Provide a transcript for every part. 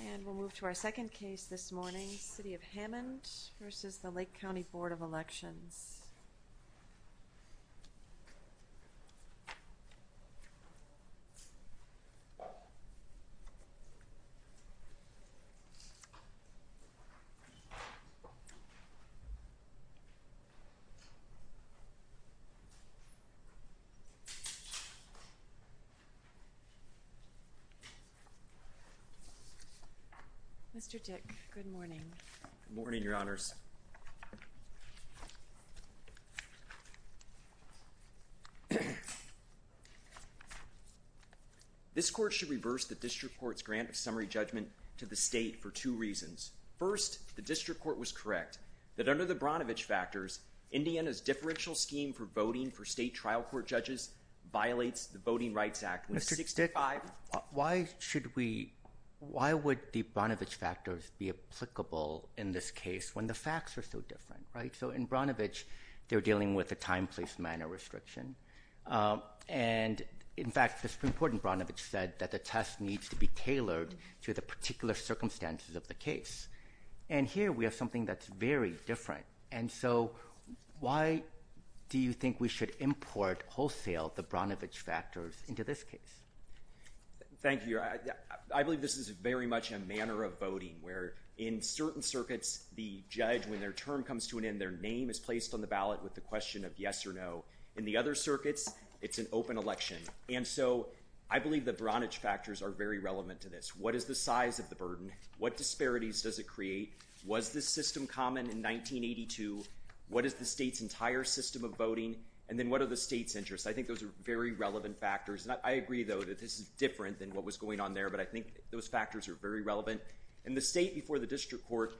And we'll move to our second case this morning, City of Hammond versus the Lake County Board of Elections. Mr. Dick, good morning. Good morning, Your Honors. This court should reverse the district court's grant of summary judgment to the state for two reasons. First, the district court was correct that under the Bronovich factors, Indiana's differential scheme for voting for state trial court judges violates the Voting Rights Act. Mr. Dick, why should we, why would the Bronovich factors be applicable in this case when the facts are so different, right? So in Bronovich, they're dealing with a time, place, manner restriction. And in fact, the Supreme Court in Bronovich said that the test needs to be tailored to the particular circumstances of the case. And here we have something that's very different. And so why do you think we should import wholesale the Bronovich factors into this case? Thank you. I believe this is very much a manner of voting where in certain circuits, the judge, when their term comes to an end, their name is placed on the ballot with the question of yes or no. In the other circuits, it's an open election. And so I believe the Bronovich factors are very relevant to this. What is the size of the burden? What disparities does it create? Was this system common in 1982? What is the state's entire system of voting? And then what are the state's interests? I think those are very relevant factors. I agree, though, that this is different than what was going on there, but I think those factors are very relevant. And the state before the district court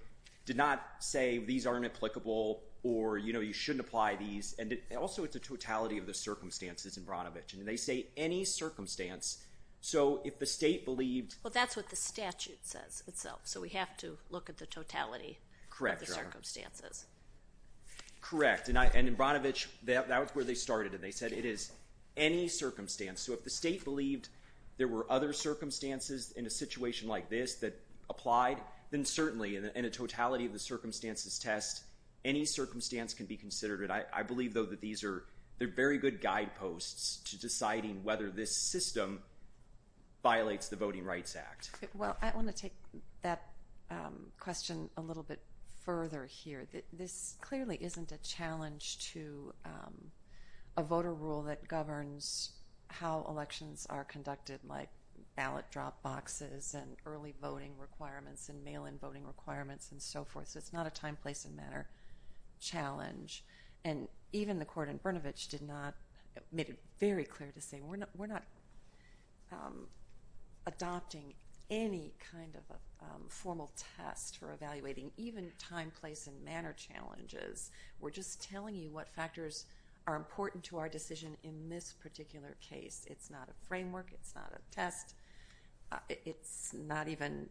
did not say these aren't applicable or, you know, you shouldn't apply these. And also it's a totality of the circumstances in Bronovich. And they say any circumstance. So if the state believed – Well, that's what the statute says itself. So we have to look at the totality of the circumstances. Correct. And in Bronovich, that was where they started, and they said it is any circumstance. So if the state believed there were other circumstances in a situation like this that applied, then certainly in a totality of the circumstances test, any circumstance can be considered. I believe, though, that these are very good guideposts to deciding whether this system violates the Voting Rights Act. Well, I want to take that question a little bit further here. This clearly isn't a challenge to a voter rule that governs how elections are conducted, like ballot drop boxes and early voting requirements and mail-in voting requirements and so forth. So it's not a time, place, and matter challenge. And even the court in Bronovich did not – made it very clear to say we're not adopting any kind of a formal test for evaluating even time, place, and matter challenges. We're just telling you what factors are important to our decision in this particular case. It's not a framework. It's not a test. It's not even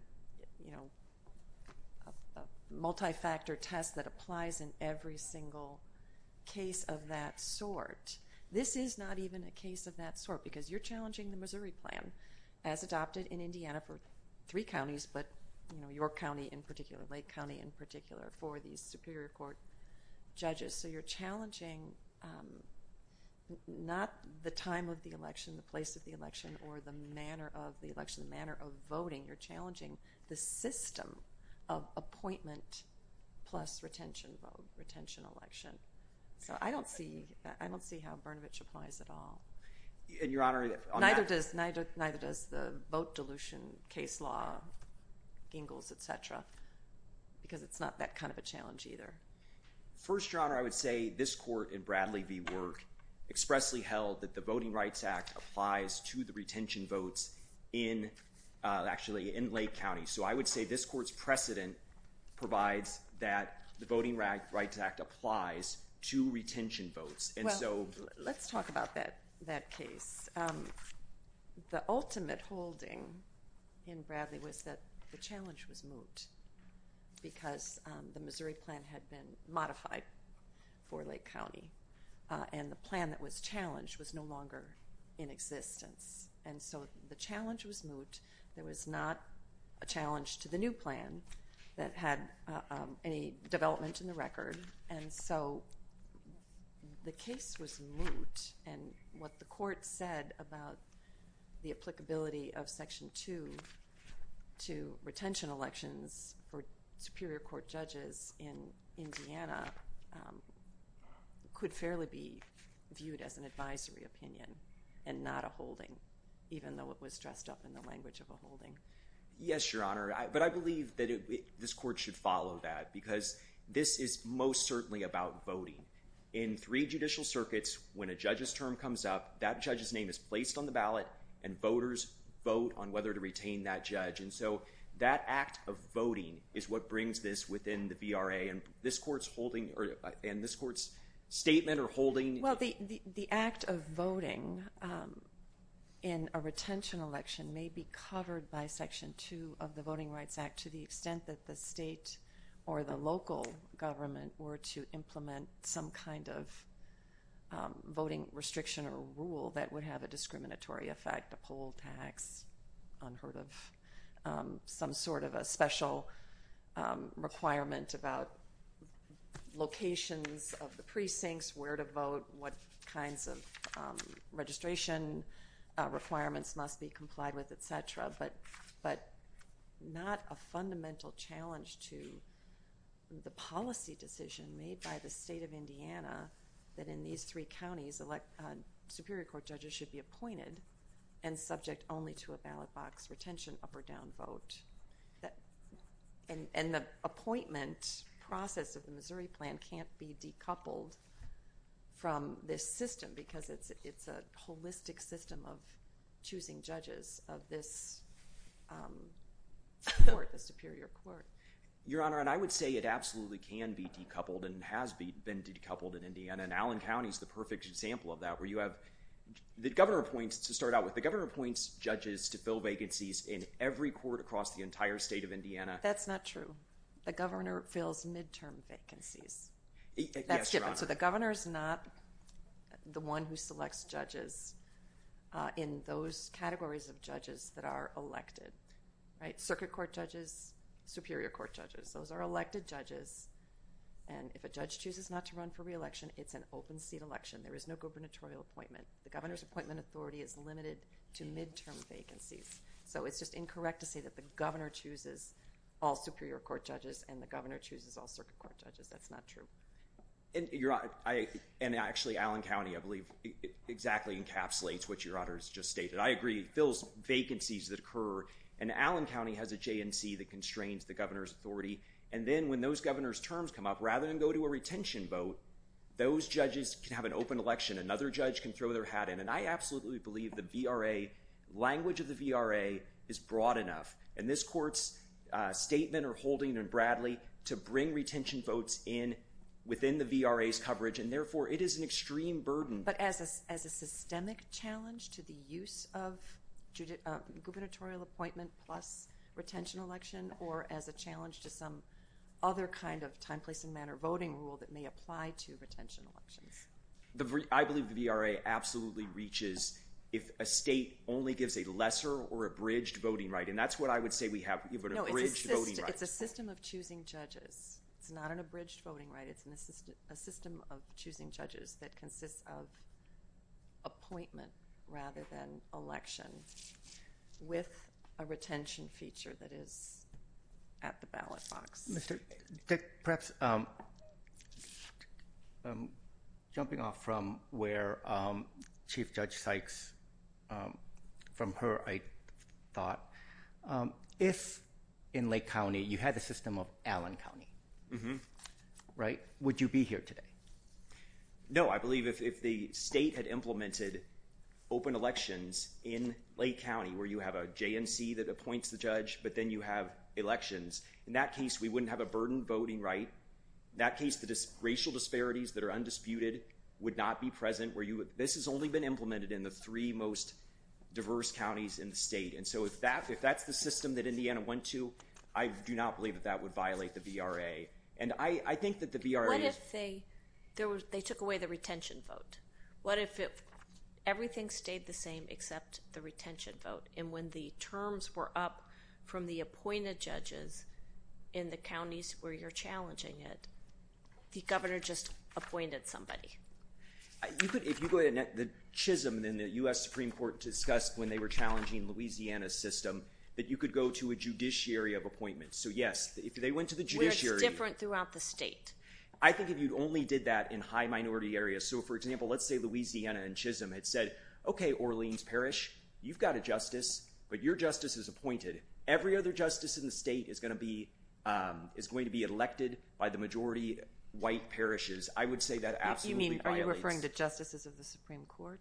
a multi-factor test that applies in every single case of that sort. This is not even a case of that sort, because you're challenging the Missouri Plan, as adopted in Indiana for three counties, but New York County in particular, Lake County in particular, for these superior court judges. So you're challenging not the time of the election, the place of the election, or the manner of the election, the manner of voting. You're challenging the system of appointment plus retention vote, retention election. So I don't see how Bronovich applies at all. And, Your Honor, on that – Neither does the vote dilution case law, Gingles, et cetera, because it's not that kind of a challenge either. First, Your Honor, I would say this court in Bradley v. Work expressly held that the Voting Rights Act applies to the retention votes actually in Lake County. So I would say this court's precedent provides that the Voting Rights Act applies to retention votes. Well, let's talk about that case. The ultimate holding in Bradley was that the challenge was moot because the Missouri Plan had been modified for Lake County, and the plan that was challenged was no longer in existence. And so the challenge was moot. There was not a challenge to the new plan that had any development in the record, and so the case was moot. And what the court said about the applicability of Section 2 to retention elections for superior court judges in Indiana could fairly be viewed as an advisory opinion and not a holding, even though it was dressed up in the language of a holding. Yes, Your Honor, but I believe that this court should follow that because this is most certainly about voting. In three judicial circuits, when a judge's term comes up, that judge's name is placed on the ballot, and voters vote on whether to retain that judge. And so that act of voting is what brings this within the VRA, and this court's statement or holding. Well, the act of voting in a retention election may be covered by Section 2 of the Voting Rights Act to the extent that the state or the local government were to implement some kind of voting restriction or rule that would have a discriminatory effect, a poll tax, unheard of, some sort of a special requirement about locations of the precincts, where to vote, what kinds of registration requirements must be complied with, et cetera. But not a fundamental challenge to the policy decision made by the state of Indiana that in these three counties, Superior Court judges should be appointed and subject only to a ballot box retention up or down vote. And the appointment process of the Missouri plan can't be decoupled from this system because it's a holistic system of choosing judges of this court, the Superior Court. Your Honor, and I would say it absolutely can be decoupled and has been decoupled in Indiana, and Allen County's the perfect example of that, where you have the governor appoints, to start out with, the governor appoints judges to fill vacancies in every court across the entire state of Indiana. That's not true. The governor fills midterm vacancies. Yes, Your Honor. That's different. So the governor's not the one who selects judges in those categories of judges that are elected, right? Circuit Court judges, Superior Court judges. Those are elected judges, and if a judge chooses not to run for re-election, it's an open seat election. There is no gubernatorial appointment. The governor's appointment authority is limited to midterm vacancies. So it's just incorrect to say that the governor chooses all Superior Court judges and the governor chooses all Circuit Court judges. That's not true. And actually, Allen County, I believe, exactly encapsulates what Your Honor has just stated. I agree. It fills vacancies that occur, and Allen County has a JNC that constrains the governor's authority, and then when those governors' terms come up, rather than go to a retention vote, those judges can have an open election. Another judge can throw their hat in, and I absolutely believe the language of the VRA is broad enough, and this court's statement or holding in Bradley to bring retention votes in within the VRA's coverage, and therefore it is an extreme burden. But as a systemic challenge to the use of gubernatorial appointment plus retention election, or as a challenge to some other kind of time, place, and manner voting rule that may apply to retention elections? I believe the VRA absolutely reaches if a state only gives a lesser or abridged voting right, and that's what I would say we have, an abridged voting right. No, it's a system of choosing judges. It's not an abridged voting right. It's a system of choosing judges that consists of appointment rather than election with a retention feature that is at the ballot box. Mr. Dick, perhaps, jumping off from where Chief Judge Sykes, from her, I thought, if in Lake County you had the system of Allen County, would you be here today? No, I believe if the state had implemented open elections in Lake County where you have a JNC that appoints the judge, but then you have elections, in that case we wouldn't have a burdened voting right. In that case, the racial disparities that are undisputed would not be present. This has only been implemented in the three most diverse counties in the state, and so if that's the system that Indiana went to, I do not believe that that would violate the VRA, and I think that the VRA- What if they took away the retention vote? What if everything stayed the same except the retention vote, and when the terms were up from the appointed judges in the counties where you're challenging it, the governor just appointed somebody? If you go to the chism in the U.S. Supreme Court discussed when they were challenging Louisiana's system that you could go to a judiciary of appointments, so yes, if they went to the judiciary- Where it's different throughout the state. I think if you only did that in high minority areas, so for example, let's say Louisiana and chism had said, okay, Orleans Parish, you've got a justice, but your justice is appointed. Every other justice in the state is going to be elected by the majority white parishes. I would say that absolutely violates- You mean, are you referring to justices of the Supreme Court?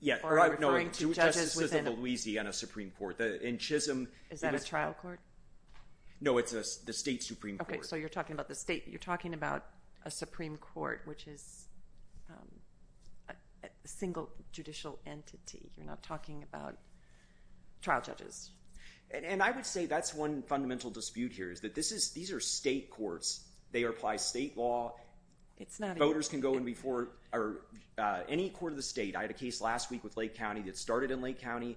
Yeah. Or are you referring to judges within- No, justices of Louisiana Supreme Court. In chism- Is that a trial court? No, it's the state Supreme Court. Okay, so you're talking about the state. You're talking about a Supreme Court, which is a single judicial entity. You're not talking about trial judges. And I would say that's one fundamental dispute here is that these are state courts. They apply state law. It's not- Voters can go in before any court of the state. I had a case last week with Lake County that started in Lake County,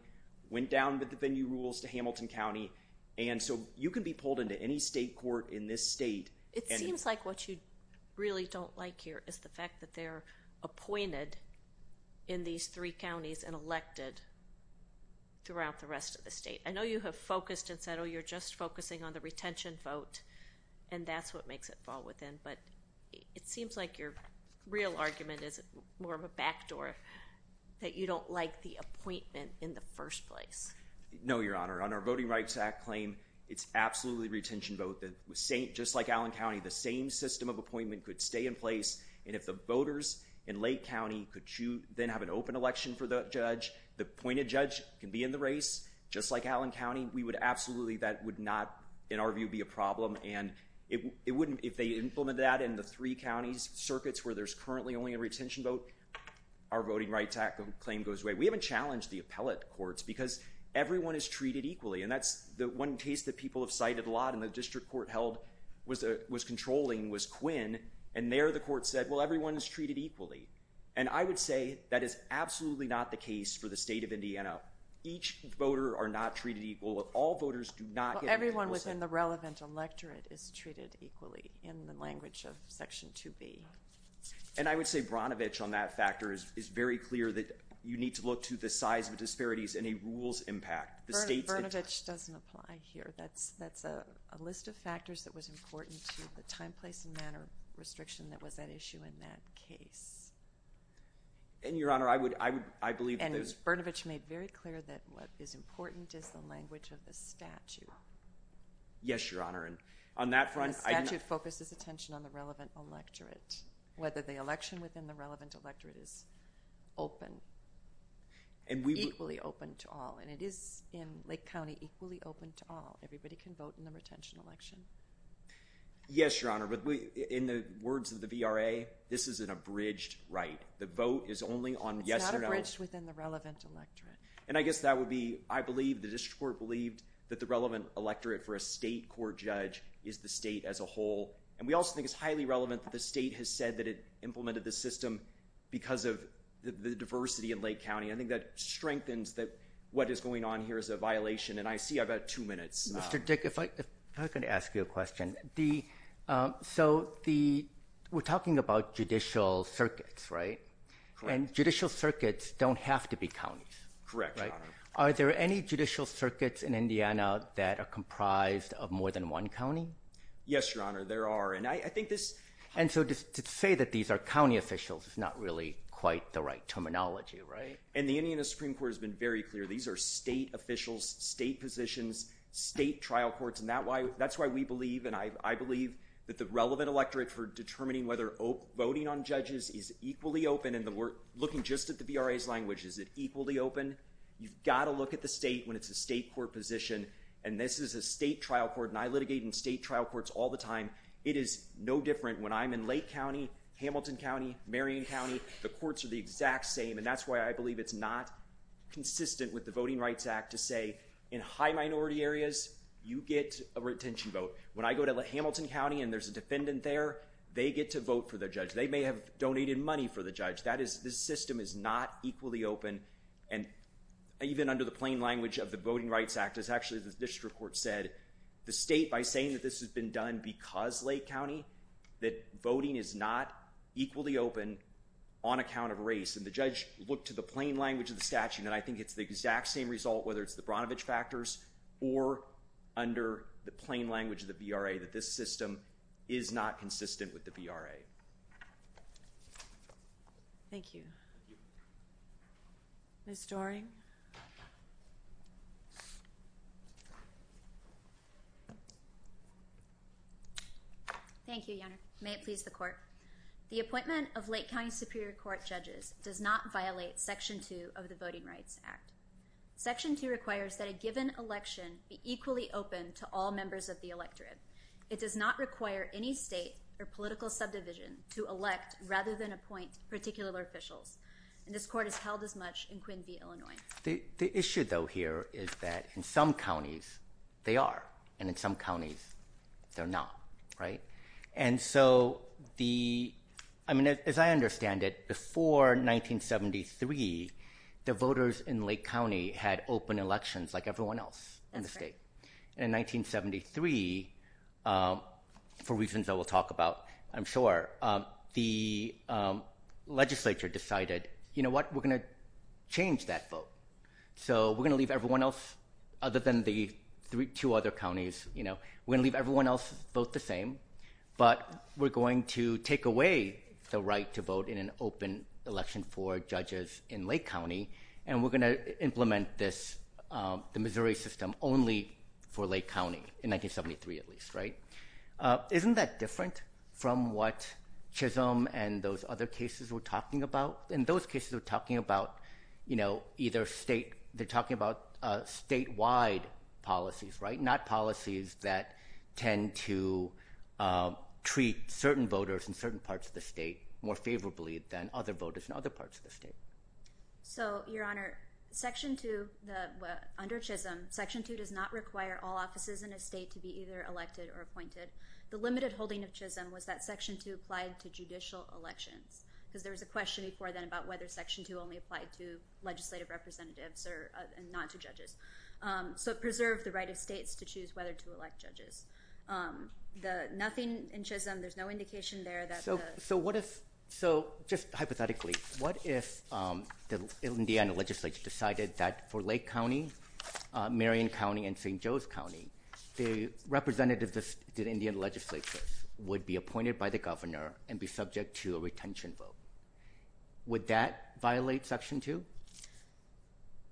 went down with the venue rules to Hamilton County, and so you can be pulled into any state court in this state- It seems like what you really don't like here is the fact that they're appointed in these three counties and elected throughout the rest of the state. I know you have focused and said, oh, you're just focusing on the retention vote, and that's what makes it fall within, but it seems like your real argument is more of a backdoor, that you don't like the appointment in the first place. No, Your Honor. On our Voting Rights Act claim, it's absolutely retention vote. Just like Allen County, the same system of appointment could stay in place, and if the voters in Lake County could then have an open election for the judge, the appointed judge can be in the race, just like Allen County. We would absolutely- That would not, in our view, be a problem, and if they implement that in the three counties, circuits where there's currently only a retention vote, our Voting Rights Act claim goes away. We haven't challenged the appellate courts because everyone is treated equally, and that's the one case that people have cited a lot and the district court held was controlling was Quinn, and there the court said, well, everyone is treated equally, and I would say that is absolutely not the case for the state of Indiana. Each voter are not treated equal. All voters do not get- Everyone within the relevant electorate is treated equally in the language of Section 2B. And I would say Brnovich on that factor is very clear that you need to look to the size of disparities and a rules impact. Brnovich doesn't apply here. That's a list of factors that was important to the time, place, and manner restriction that was at issue in that case. And, Your Honor, I would- And Brnovich made very clear that what is important is the language of the statute. Yes, Your Honor, and on that front- And the statute focuses attention on the relevant electorate, whether the election within the relevant electorate is open, equally open to all, and it is in Lake County equally open to all. Everybody can vote in the retention election. Yes, Your Honor, but in the words of the VRA, this is an abridged right. The vote is only on yes or no. It's not abridged within the relevant electorate. And I guess that would be, I believe, the district court believed that the relevant electorate for a state court judge is the state as a whole. And we also think it's highly relevant that the state has said that it implemented this system because of the diversity in Lake County. I think that strengthens that what is going on here is a violation. And I see I've got two minutes. Mr. Dick, if I could ask you a question. So, we're talking about judicial circuits, right? And judicial circuits don't have to be counties. Correct, Your Honor. Are there any judicial circuits in Indiana that are comprised of more than one county? Yes, Your Honor, there are. And I think this... And so, to say that these are county officials is not really quite the right terminology, right? And the Indiana Supreme Court has been very clear. These are state officials, state positions, state trial courts, and that's why we believe, and I believe, that the relevant electorate for determining whether voting on judges is equally open, and we're looking just at the VRA's language. Is it equally open? You've got to look at the state when it's a state court position, and this is a state trial court, and I litigate in state trial courts all the time. It is no different when I'm in Lake County, Hamilton County, Marion County. The courts are the exact same, and that's why I believe it's not consistent with the Voting Rights Act to say, in high minority areas, you get a retention vote. When I go to Hamilton County, and there's a defendant there, they get to vote for their judge. They may have donated money for the judge. This system is not equally open, and even under the plain language of the Voting Rights Act, as actually the district court said, the state, by saying that this has been done because Lake County, that voting is not equally open on account of race, and the judge looked to the plain language of the statute, and I think it's the exact same result, whether it's the Bronovich factors, or under the plain language of the VRA, that this system is not consistent with the VRA. Thank you. Thank you. Ms. Doering? Thank you, Your Honor. May it please the court. The appointment of Lake County Superior Court judges does not violate Section 2 of the Voting Rights Act. Section 2 requires that a given election be equally open to all members of the electorate. It does not require any state or political subdivision to elect rather than appoint particular officials, and this court has held as much in Quinby, Illinois. The issue, though, here is that in some counties, they are, and in some counties, they're not, right? And so the, I mean, as I understand it, before 1973, the voters in Lake County had open elections like everyone else in the state. That's correct. And in 1973, for reasons I will talk about, I'm sure, the legislature decided, you know what, we're going to change that vote. So we're going to leave everyone else, other than the two other counties, you know, we're going to leave everyone else vote the same, but we're going to take away the right to vote in an open election for judges in Lake County, and we're going to implement this, the Missouri system, only for Lake County, in 1973 at least, right? Isn't that different from what Chisholm and those other cases were talking about? In those cases, they're talking about, you know, either state, they're talking about statewide policies, right, not policies that tend to treat certain voters in certain parts of the state more favorably than other voters in other parts of the state. So, Your Honor, Section 2, under Chisholm, Section 2 does not require all offices in a state to be either elected or appointed. The limited holding of Chisholm was that Section 2 applied to judicial elections, because there was a question before then about whether Section 2 only applied to legislative representatives and not to judges. So it preserved the right of states to choose whether to elect judges. Nothing in Chisholm, there's no indication there that the... So what if, just hypothetically, what if Indiana legislature decided that for Lake County, Marion County, and St. Joe's County, the representatives of the Indian legislatures would be appointed by the governor and be subject to a retention vote? Would that violate Section 2?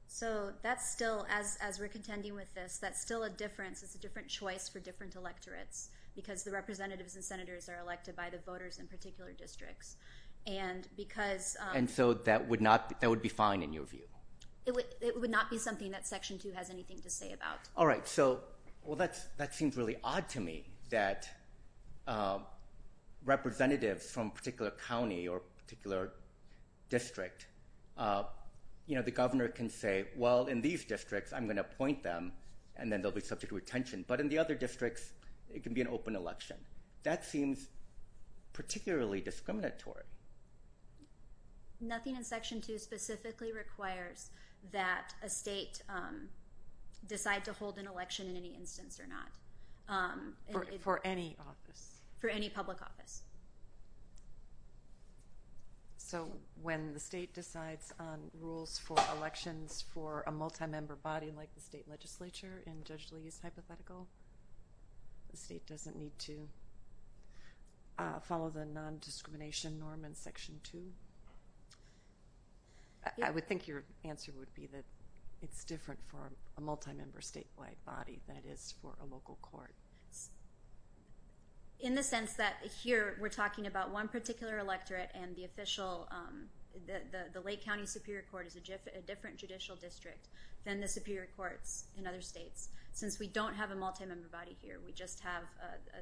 So that's still, as we're contending with this, that's still a difference. It's a different choice for different electorates, because the representatives and senators are elected by the voters in particular districts, and because... And so that would be fine, in your view? It would not be something that Section 2 has anything to say about. All right, so, well, that seems really odd to me, that representatives from a particular county or a particular district, you know, the governor can say, well, in these districts, I'm going to appoint them, and then they'll be subject to retention. But in the other districts, it can be an open election. That seems particularly discriminatory. Nothing in Section 2 specifically requires that a state decide to hold an election in any instance or not. For any office? For any public office. So when the state decides on rules for elections for a multi-member body like the state legislature, in Judge Lee's hypothetical, the state doesn't need to follow the non-discrimination norm in Section 2? I would think your answer would be that it's different for a multi-member statewide body than it is for a local court. In the sense that here, we're talking about one particular electorate and the official, the Lake County Superior Court is a different judicial district than the superior courts in other states. Since we don't have a multi-member body here, we just have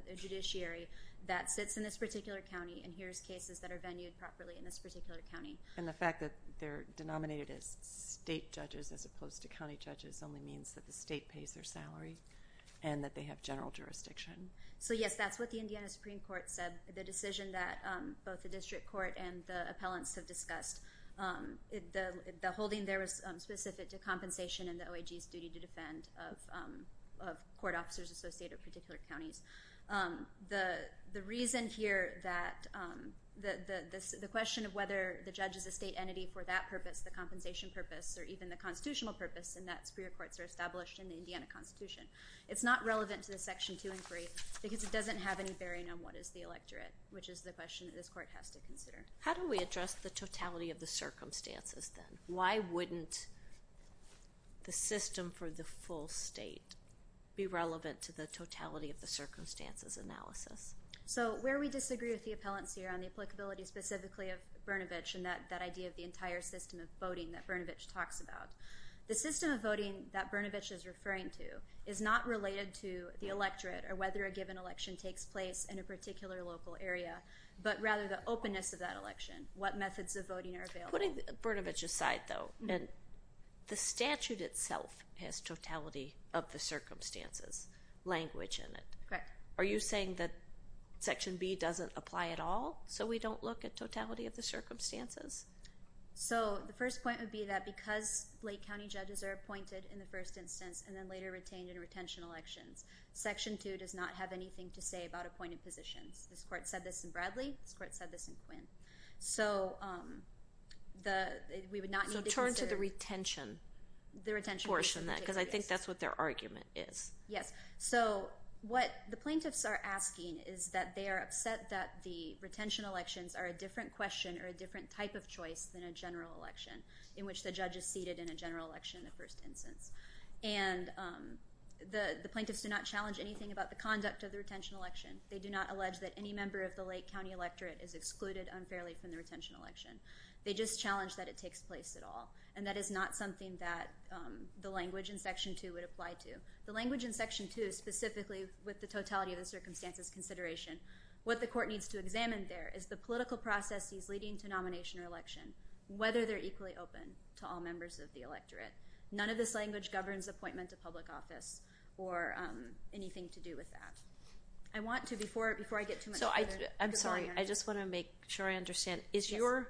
a judiciary that sits in this particular county and hears cases that are venued properly in this particular county. And the fact that they're denominated as state judges as opposed to county judges only means that the state pays their salary and that they have general jurisdiction. So yes, that's what the Indiana Supreme Court said, the decision that both the district court and the appellants have discussed. The holding there was specific to compensation and the OIG's duty to defend of court officers associated with particular counties. The reason here that the question of whether the judge is a state entity for that purpose, the compensation purpose, or even the constitutional purpose in that superior courts are established in the Indiana Constitution. It's not relevant to the Section 2 and 3 because it doesn't have any bearing on what is the electorate, which is the question that this court has to consider. How do we address the totality of the circumstances then? Why wouldn't the system for the full state be relevant to the totality of the circumstances analysis? So where we disagree with the appellants here on the applicability specifically of Brnovich and that idea of the entire system of voting that Brnovich talks about, the system of voting that Brnovich is referring to is not related to the electorate or whether a given election takes place in a particular local area, but rather the openness of that election, what methods of voting are available. Putting Brnovich aside though, the statute itself has totality of the circumstances language in it. Correct. Are you saying that Section B doesn't apply at all so we don't look at totality of the circumstances? So the first point would be that because Lake County judges are appointed in the first instance and then later retained in retention elections, Section 2 does not have anything to say about appointed positions. This court said this in Bradley. This court said this in Quinn. So we would not need to consider... So turn to the retention portion of that because I think that's what their argument is. Yes. So what the plaintiffs are asking is that they are upset that the retention elections are a different question or a different type of choice than a general election in which the judge is seated in a general election in the first instance. And the plaintiffs do not challenge anything about the conduct of the retention election. They do not allege that any member of the Lake County electorate is excluded unfairly from the retention election. They just challenge that it takes place at all. And that is not something that the language in Section 2 would apply to. The language in Section 2, specifically with the totality of the circumstances consideration, what the court needs to examine there is the political processes leading to nomination or election, whether they're equally open to all members of the electorate. None of this language governs appointment to public office or anything to do with that. I want to, before I get too much further... I'm sorry, I just want to make sure I understand. Is your,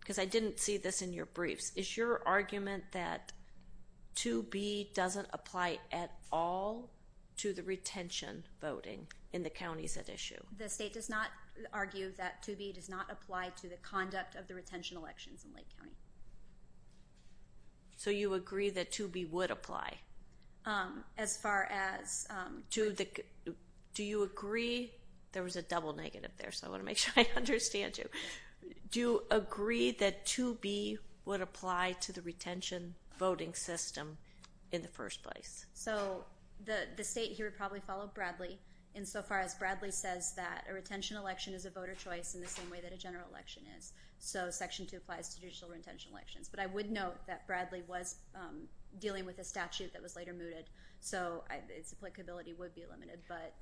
because I didn't see this in your briefs, is your argument that 2B doesn't apply at all to the retention voting in the counties at issue? The state does not argue that 2B does not apply to the conduct of the retention elections in Lake County. So you agree that 2B would apply? As far as... Do you agree... There was a double negative there, so I want to make sure I understand you. Do you agree that 2B would apply to the retention voting system in the first place? So the state here would probably follow Bradley insofar as Bradley says that a retention election is a voter choice in the same way that a general election is. So Section 2 applies to digital retention elections. But I would note that Bradley was dealing with a statute that was later mooted, so its applicability would be limited. But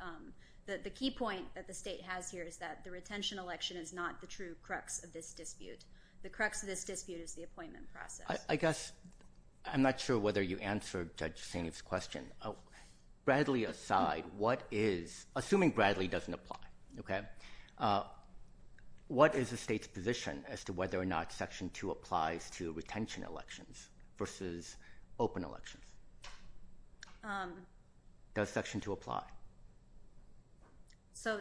the key point that the state has here is that the retention election is not the true crux of this dispute. The crux of this dispute is the appointment process. I guess I'm not sure whether you answered Judge Sainiff's question. Bradley aside, what is... Assuming Bradley doesn't apply, OK, what is the state's position as to whether or not Section 2 applies to retention elections versus open elections? Does Section 2 apply? So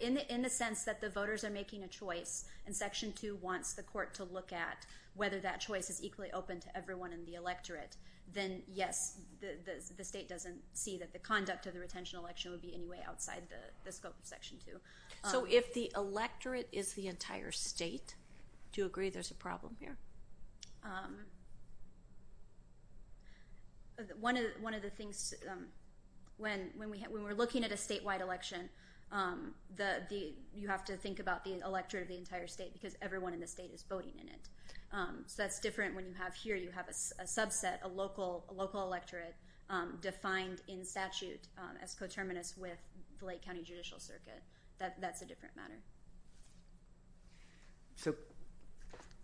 in the sense that the voters are making a choice and Section 2 wants the court to look at whether that choice is equally open to everyone in the electorate, then yes, the state doesn't see that the conduct of the retention election would be any way outside the scope of Section 2. So if the electorate is the entire state, do you agree there's a problem here? One of the things... When we're looking at a statewide election, you have to think about the electorate of the entire state because everyone in the state is voting in it. So that's different when you have here, you have a subset, a local electorate defined in statute as coterminous with the Lake County Judicial Circuit. That's a different matter. So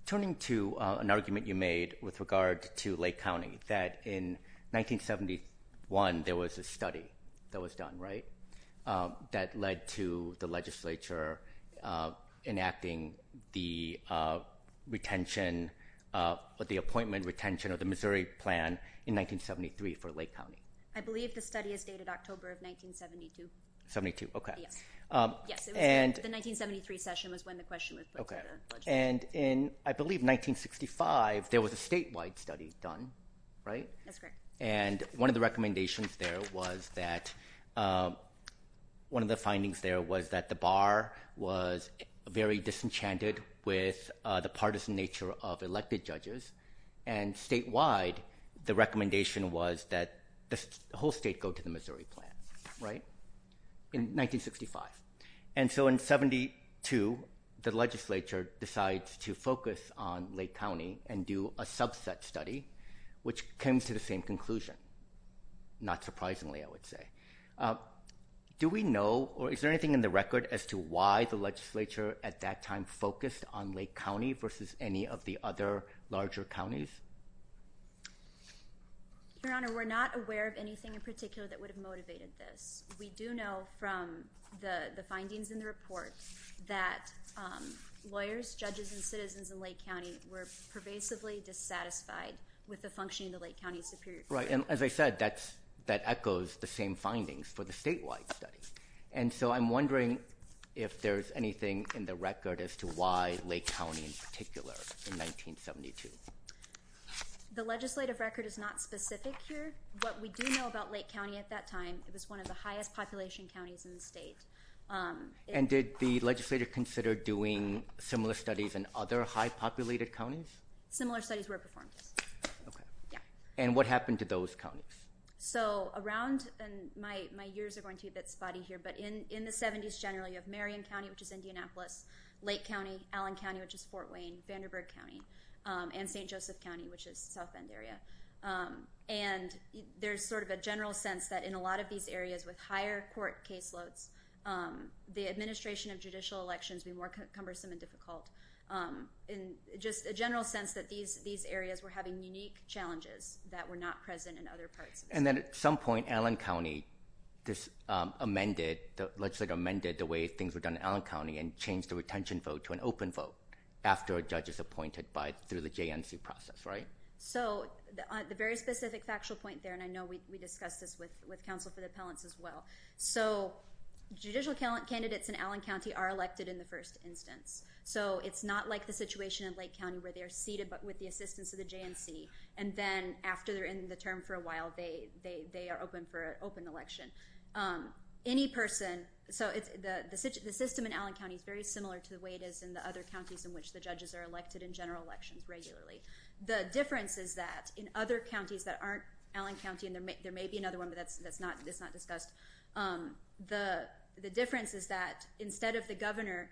turning to an argument you made with regard to Lake County, that in 1971 there was a study that was done, right, that led to the legislature enacting the retention, the appointment retention of the Missouri plan in 1973 for Lake County. I believe the study is dated October of 1972. Yes, the 1973 session was when the question was put to the legislature. And in, I believe, 1965, there was a statewide study done, right? That's correct. And one of the findings there was that the bar was very disenchanted with the partisan nature of elected judges, and statewide the recommendation was that the whole state go to the Missouri plan, right? In 1965. And so in 72, the legislature decides to focus on Lake County and do a subset study, which came to the same conclusion. Not surprisingly, I would say. Do we know, or is there anything in the record as to why the legislature at that time focused on Lake County versus any of the other larger counties? Your Honor, we're not aware of anything in particular that would have motivated this. We do know from the findings in the report that lawyers, judges, and citizens in Lake County were pervasively dissatisfied with the function of the Lake County Superior Court. Right. And as I said, that echoes the same findings for the statewide study. And so I'm wondering if there's anything in the record as to why Lake County in particular in 1972. The legislative record is not specific here. What we do know about Lake County at that time, it was one of the highest population counties in the state. And did the legislator consider doing similar studies in other high populated counties? Similar studies were performed. And what happened to those counties? So around, and my years are going to be a bit spotty here, but in the 70s generally of Marion County, which is Indianapolis, Lake County, Allen County, which is Fort Wayne, Vanderbilt County, and St. Joseph County, which is South Bend area. And there's sort of a general sense that in a lot of these areas with higher court caseloads, the administration of judicial elections be more cumbersome and difficult. In just a general sense that these areas were having unique challenges that were not present in other parts. And then at some point, Allen County amended, the legislator amended the way things were done in Allen County and changed the retention vote to an open vote after a judge is appointed through the JNC process, right? So the very specific factual point there, and I know we discussed this with counsel for the appellants as well. So judicial candidates in Allen County are elected in the first instance. So it's not like the situation in Lake County where they're seated with the assistance of the JNC and then after they're in the term for a while, they are open for an open election. Any person, so the system in Allen County is very similar to the way it is in the other counties in which the judges are elected in general elections regularly. The difference is that in other counties that aren't Allen County, and there may be another one, but that's not discussed. The difference is that instead of the governor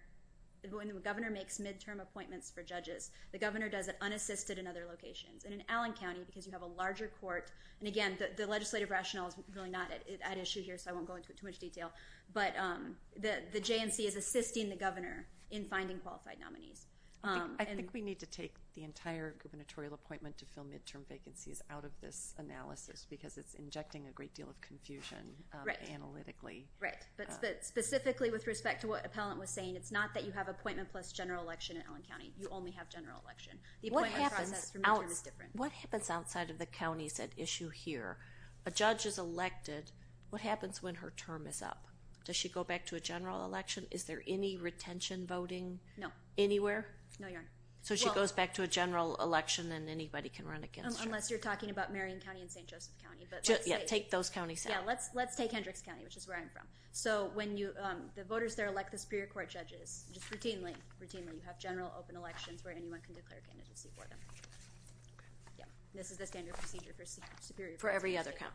when the governor makes midterm appointments for judges, the governor does it unassisted in other locations. And in Allen County, because you have a larger court, and again, the legislative rationale is really not at issue here, so I won't go into too much detail, but the JNC is assisting the governor in finding qualified nominees. I think we need to take the entire gubernatorial appointment to fill midterm vacancies out of this analysis because it's injecting a great deal of confusion analytically. Right, but specifically with respect to what the appellant was saying, it's not that you have appointment plus general election in Allen County. You only have general election. The appointment process for midterm is different. What happens outside of the counties at issue here? A judge is elected. What happens when her term is up? Does she go back to a general election? Is there any retention voting anywhere? So she goes back to a general election and anybody can run against her. Unless you're talking about Marion County and St. Joseph County. Yeah, take those counties out. Let's take Hendricks County, which is where I'm from. The voters there elect the Superior Court judges just routinely. You have general open elections where anyone can declare candidacy for them. This is the standard procedure for every other county.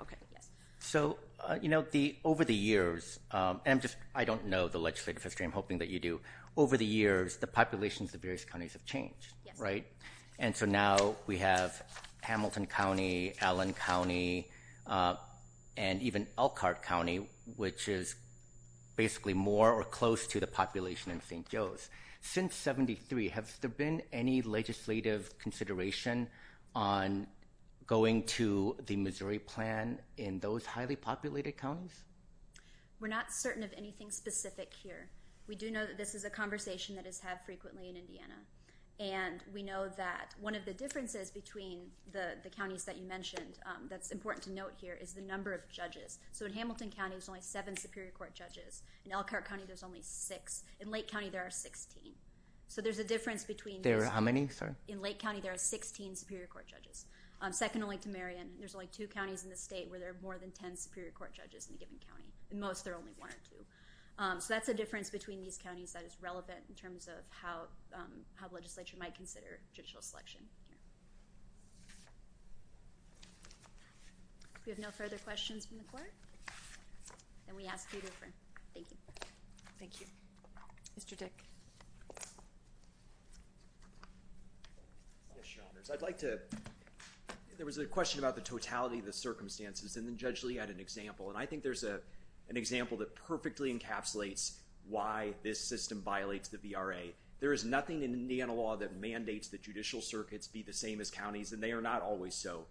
So, you know, over the years, I don't know the legislative history. I'm hoping that you do. Over the years, the populations of various counties have changed. Right. And so now we have Hamilton County, Allen County and even Elkhart County, which is basically more or close to the population in St. Joe's. Since 73, have there been any legislative consideration on going to the Missouri plan in those highly populated counties? We're not certain of anything specific here. We do know that this is a conversation that is had frequently in Indiana, and we know that one of the differences between the counties that you mentioned that's important to note here is the number of judges. So in Hamilton County, there's only seven Superior Court judges. In Elkhart County, there's only six. In Lake County, there are 16. So there's a difference between there. How many? In Lake County, there are 16 Superior Court judges. Second only to Marion, there's only two counties in the state where there are more than 10 Superior Court judges in a given county. In most, there are only one or two. So that's a difference between these counties that is relevant in terms of how how legislature might consider judicial selection. We have no further questions from the court. And we ask you to thank you. Thank you. Mr. Dick. I'd like to there was a question about the totality of the circumstances and then Judge Lee had an example. And I think there's a an example that perfectly encapsulates why this system violates the VRA. There is nothing in Indiana law that mandates the judicial circuits be the same as counties and they are not always so.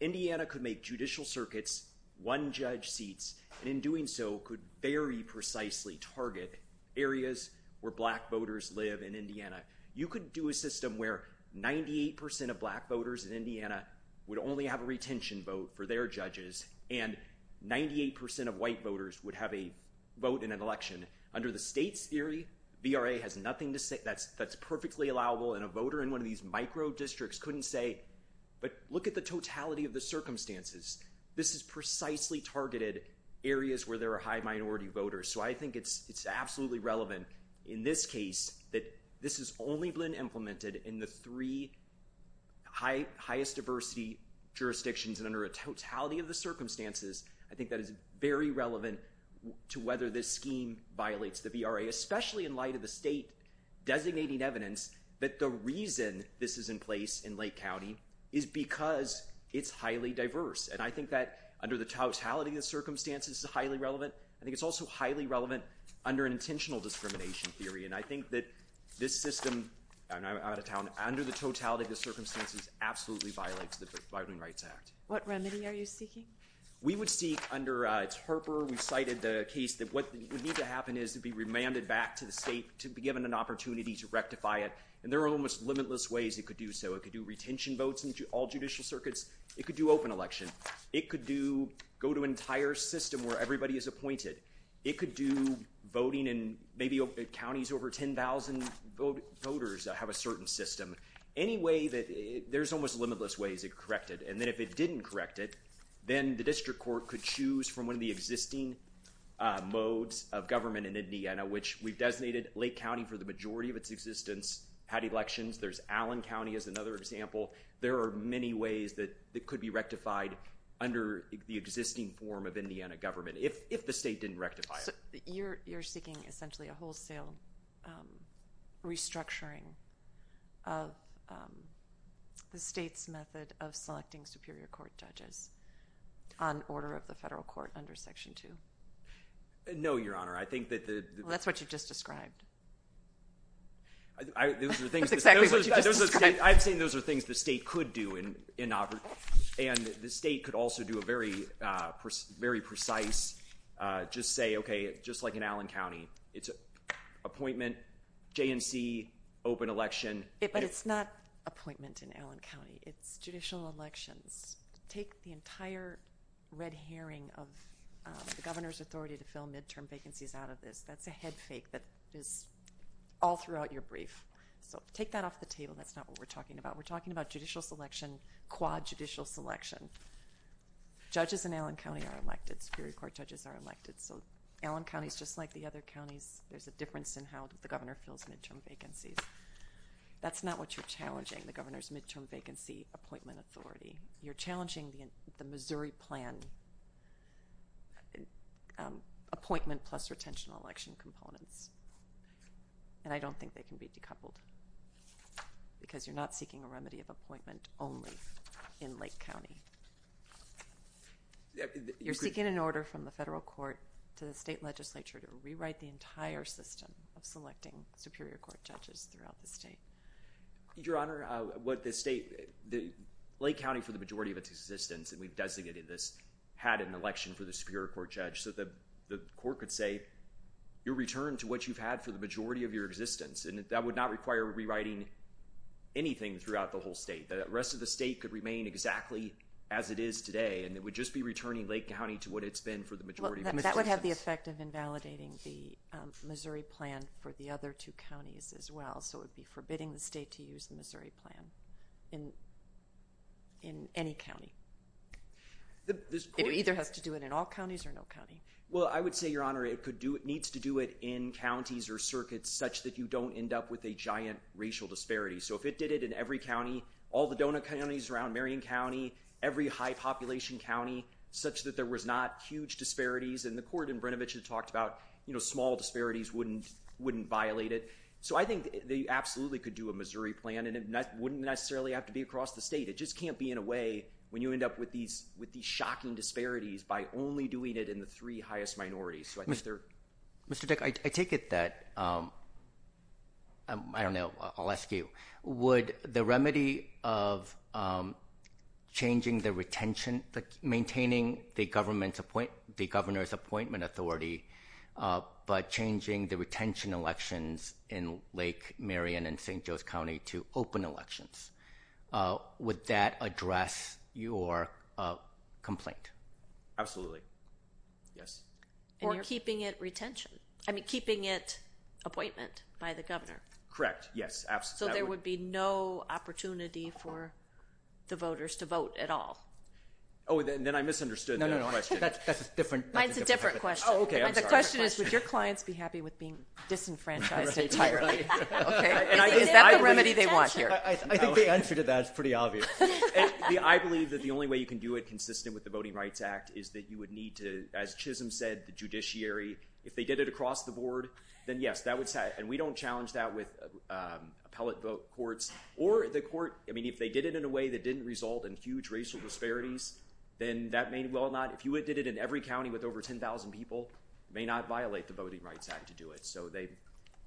Indiana could make judicial circuits one judge seats and in doing so could very precisely target areas where black voters live in Indiana. You could do a system where 98% of black voters in Indiana would only have a retention vote for their judges and 98% of white voters would have a vote in an election. Under the state's theory VRA has nothing to say. That's that's perfectly allowable and a voter in one of these micro districts couldn't say but look at the totality of the circumstances. This is precisely targeted areas where there are high minority voters. So I think it's it's absolutely relevant in this case that this is only been implemented in the three high highest diversity jurisdictions and under a totality of the circumstances. I think that is very relevant to whether this scheme violates the VRA especially in light of the state designating evidence that the reason this is in place in Lake County is because it's highly diverse and I think that under the totality of the circumstances is highly relevant. I think it's also highly relevant under an intentional discrimination theory and I think that this system and I'm out of town under the totality of the circumstances absolutely violates the Voting Rights Act. What remedy are you seeking? We would seek under it's Harper. We've cited the case that what would need to happen is to be remanded back to the state to be given an opportunity to rectify it and there are almost limitless ways it could do so. It could do retention votes in all judicial circuits. It could do open election. It could do go to entire system where everybody is appointed. It could do voting in maybe counties over 10,000 voters that have a certain system. Any way that there's almost limitless ways it corrected and then if it didn't correct it then the district court could choose from one of the existing modes of government in Indiana which we've designated Lake County for the majority of its existence had elections. There's Allen County as another example. There are many ways that it could be rectified under the existing form of Indiana government if the state didn't rectify it. You're seeking essentially a wholesale restructuring of the state's method of selecting superior court judges on order of the federal court under Section 2? No, Your Honor. I think that the... Well, that's what you just described. That's exactly what you just described. I'm saying those are things the state could do and the state could also do a very precise just say, okay, just like in Allen County it's appointment, J&C, open election. But it's not appointment in Allen County. It's judicial elections. Take the entire red herring of the governor's authority to fill midterm vacancies out of this. That's a head fake that is all throughout your brief. Take that off the table. That's not what we're talking about. We're talking about judicial selection, quad judicial selection. Judges in Allen County are elected. Superior court judges are elected. Allen County is just like the other counties. There's a difference in how the governor fills midterm vacancies. That's not what you're challenging, the governor's midterm vacancy appointment authority. You're challenging the Missouri plan appointment plus retention election components. And I don't think they can be decoupled because you're not seeking a remedy of appointment only in Lake County. You're seeking an order from the federal court to the state legislature to rewrite the entire system of selecting superior court judges throughout the state. Your Honor, Lake County for the majority of its existence, and we've designated this, had an election for the superior court judge. So the court could say, you're returned to what you've had for the majority of your existence. And that would not require rewriting anything throughout the whole state. The rest of the state could remain exactly as it is today and it would just be returning Lake County to what it's been for the majority of its existence. That would have the effect of invalidating the Missouri plan for the other two counties as well. So it would be forbidding the state to use the Missouri plan in any county. It either has to do it in all counties or no county. Well, I would say, Your Honor, it needs to do it in counties or circuits such that you don't end up with a giant racial disparity. So if it did it in every county, all the donut counties around Marion County, every high population county such that there was not huge disparities, and the court in Brnovich had talked about, you know, small disparities wouldn't violate it. So I think they absolutely could do a Missouri plan and it wouldn't necessarily have to be across the state. It just can't be in a way when you end up with these shocking disparities by only doing it in the three highest minorities. Mr. Dick, I take it that I don't know, I'll ask you. Would the remedy of changing the retention, maintaining the governor's appointment authority by changing the retention elections in Lake Marion and St. Joe's County to open elections, would that address your complaint? Absolutely. Yes. Or keeping it retention. I mean, keeping it appointment by the governor. Correct. Yes. So there would be no opportunity for the voters to vote at all. Oh, then I misunderstood that question. That's a different question. Oh, okay. I'm sorry. The question is, would your clients be happy with being disenfranchised entirely? Is that the remedy they want here? I think the answer to that is pretty obvious. I believe that the only way you can do it consistent with the Voting Rights Act is that you would need to, as Chisholm said, the judiciary, if they did it across the board, then yes. And we don't challenge that with appellate vote courts or the court. I mean, if they did it in a way that didn't result in huge racial disparities, then that may well not. If you did it in every county with over 10,000 people, it may not violate the Voting Rights Act to do it.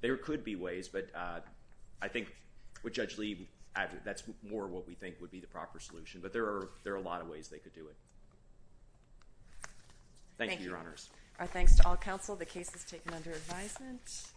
There could be ways, but I think with Judge Lee, that's more what we think would be the proper solution. But there are a lot of ways they could do it. Thank you, Your Honors. Our thanks to all counsel. The case is taken under advisement.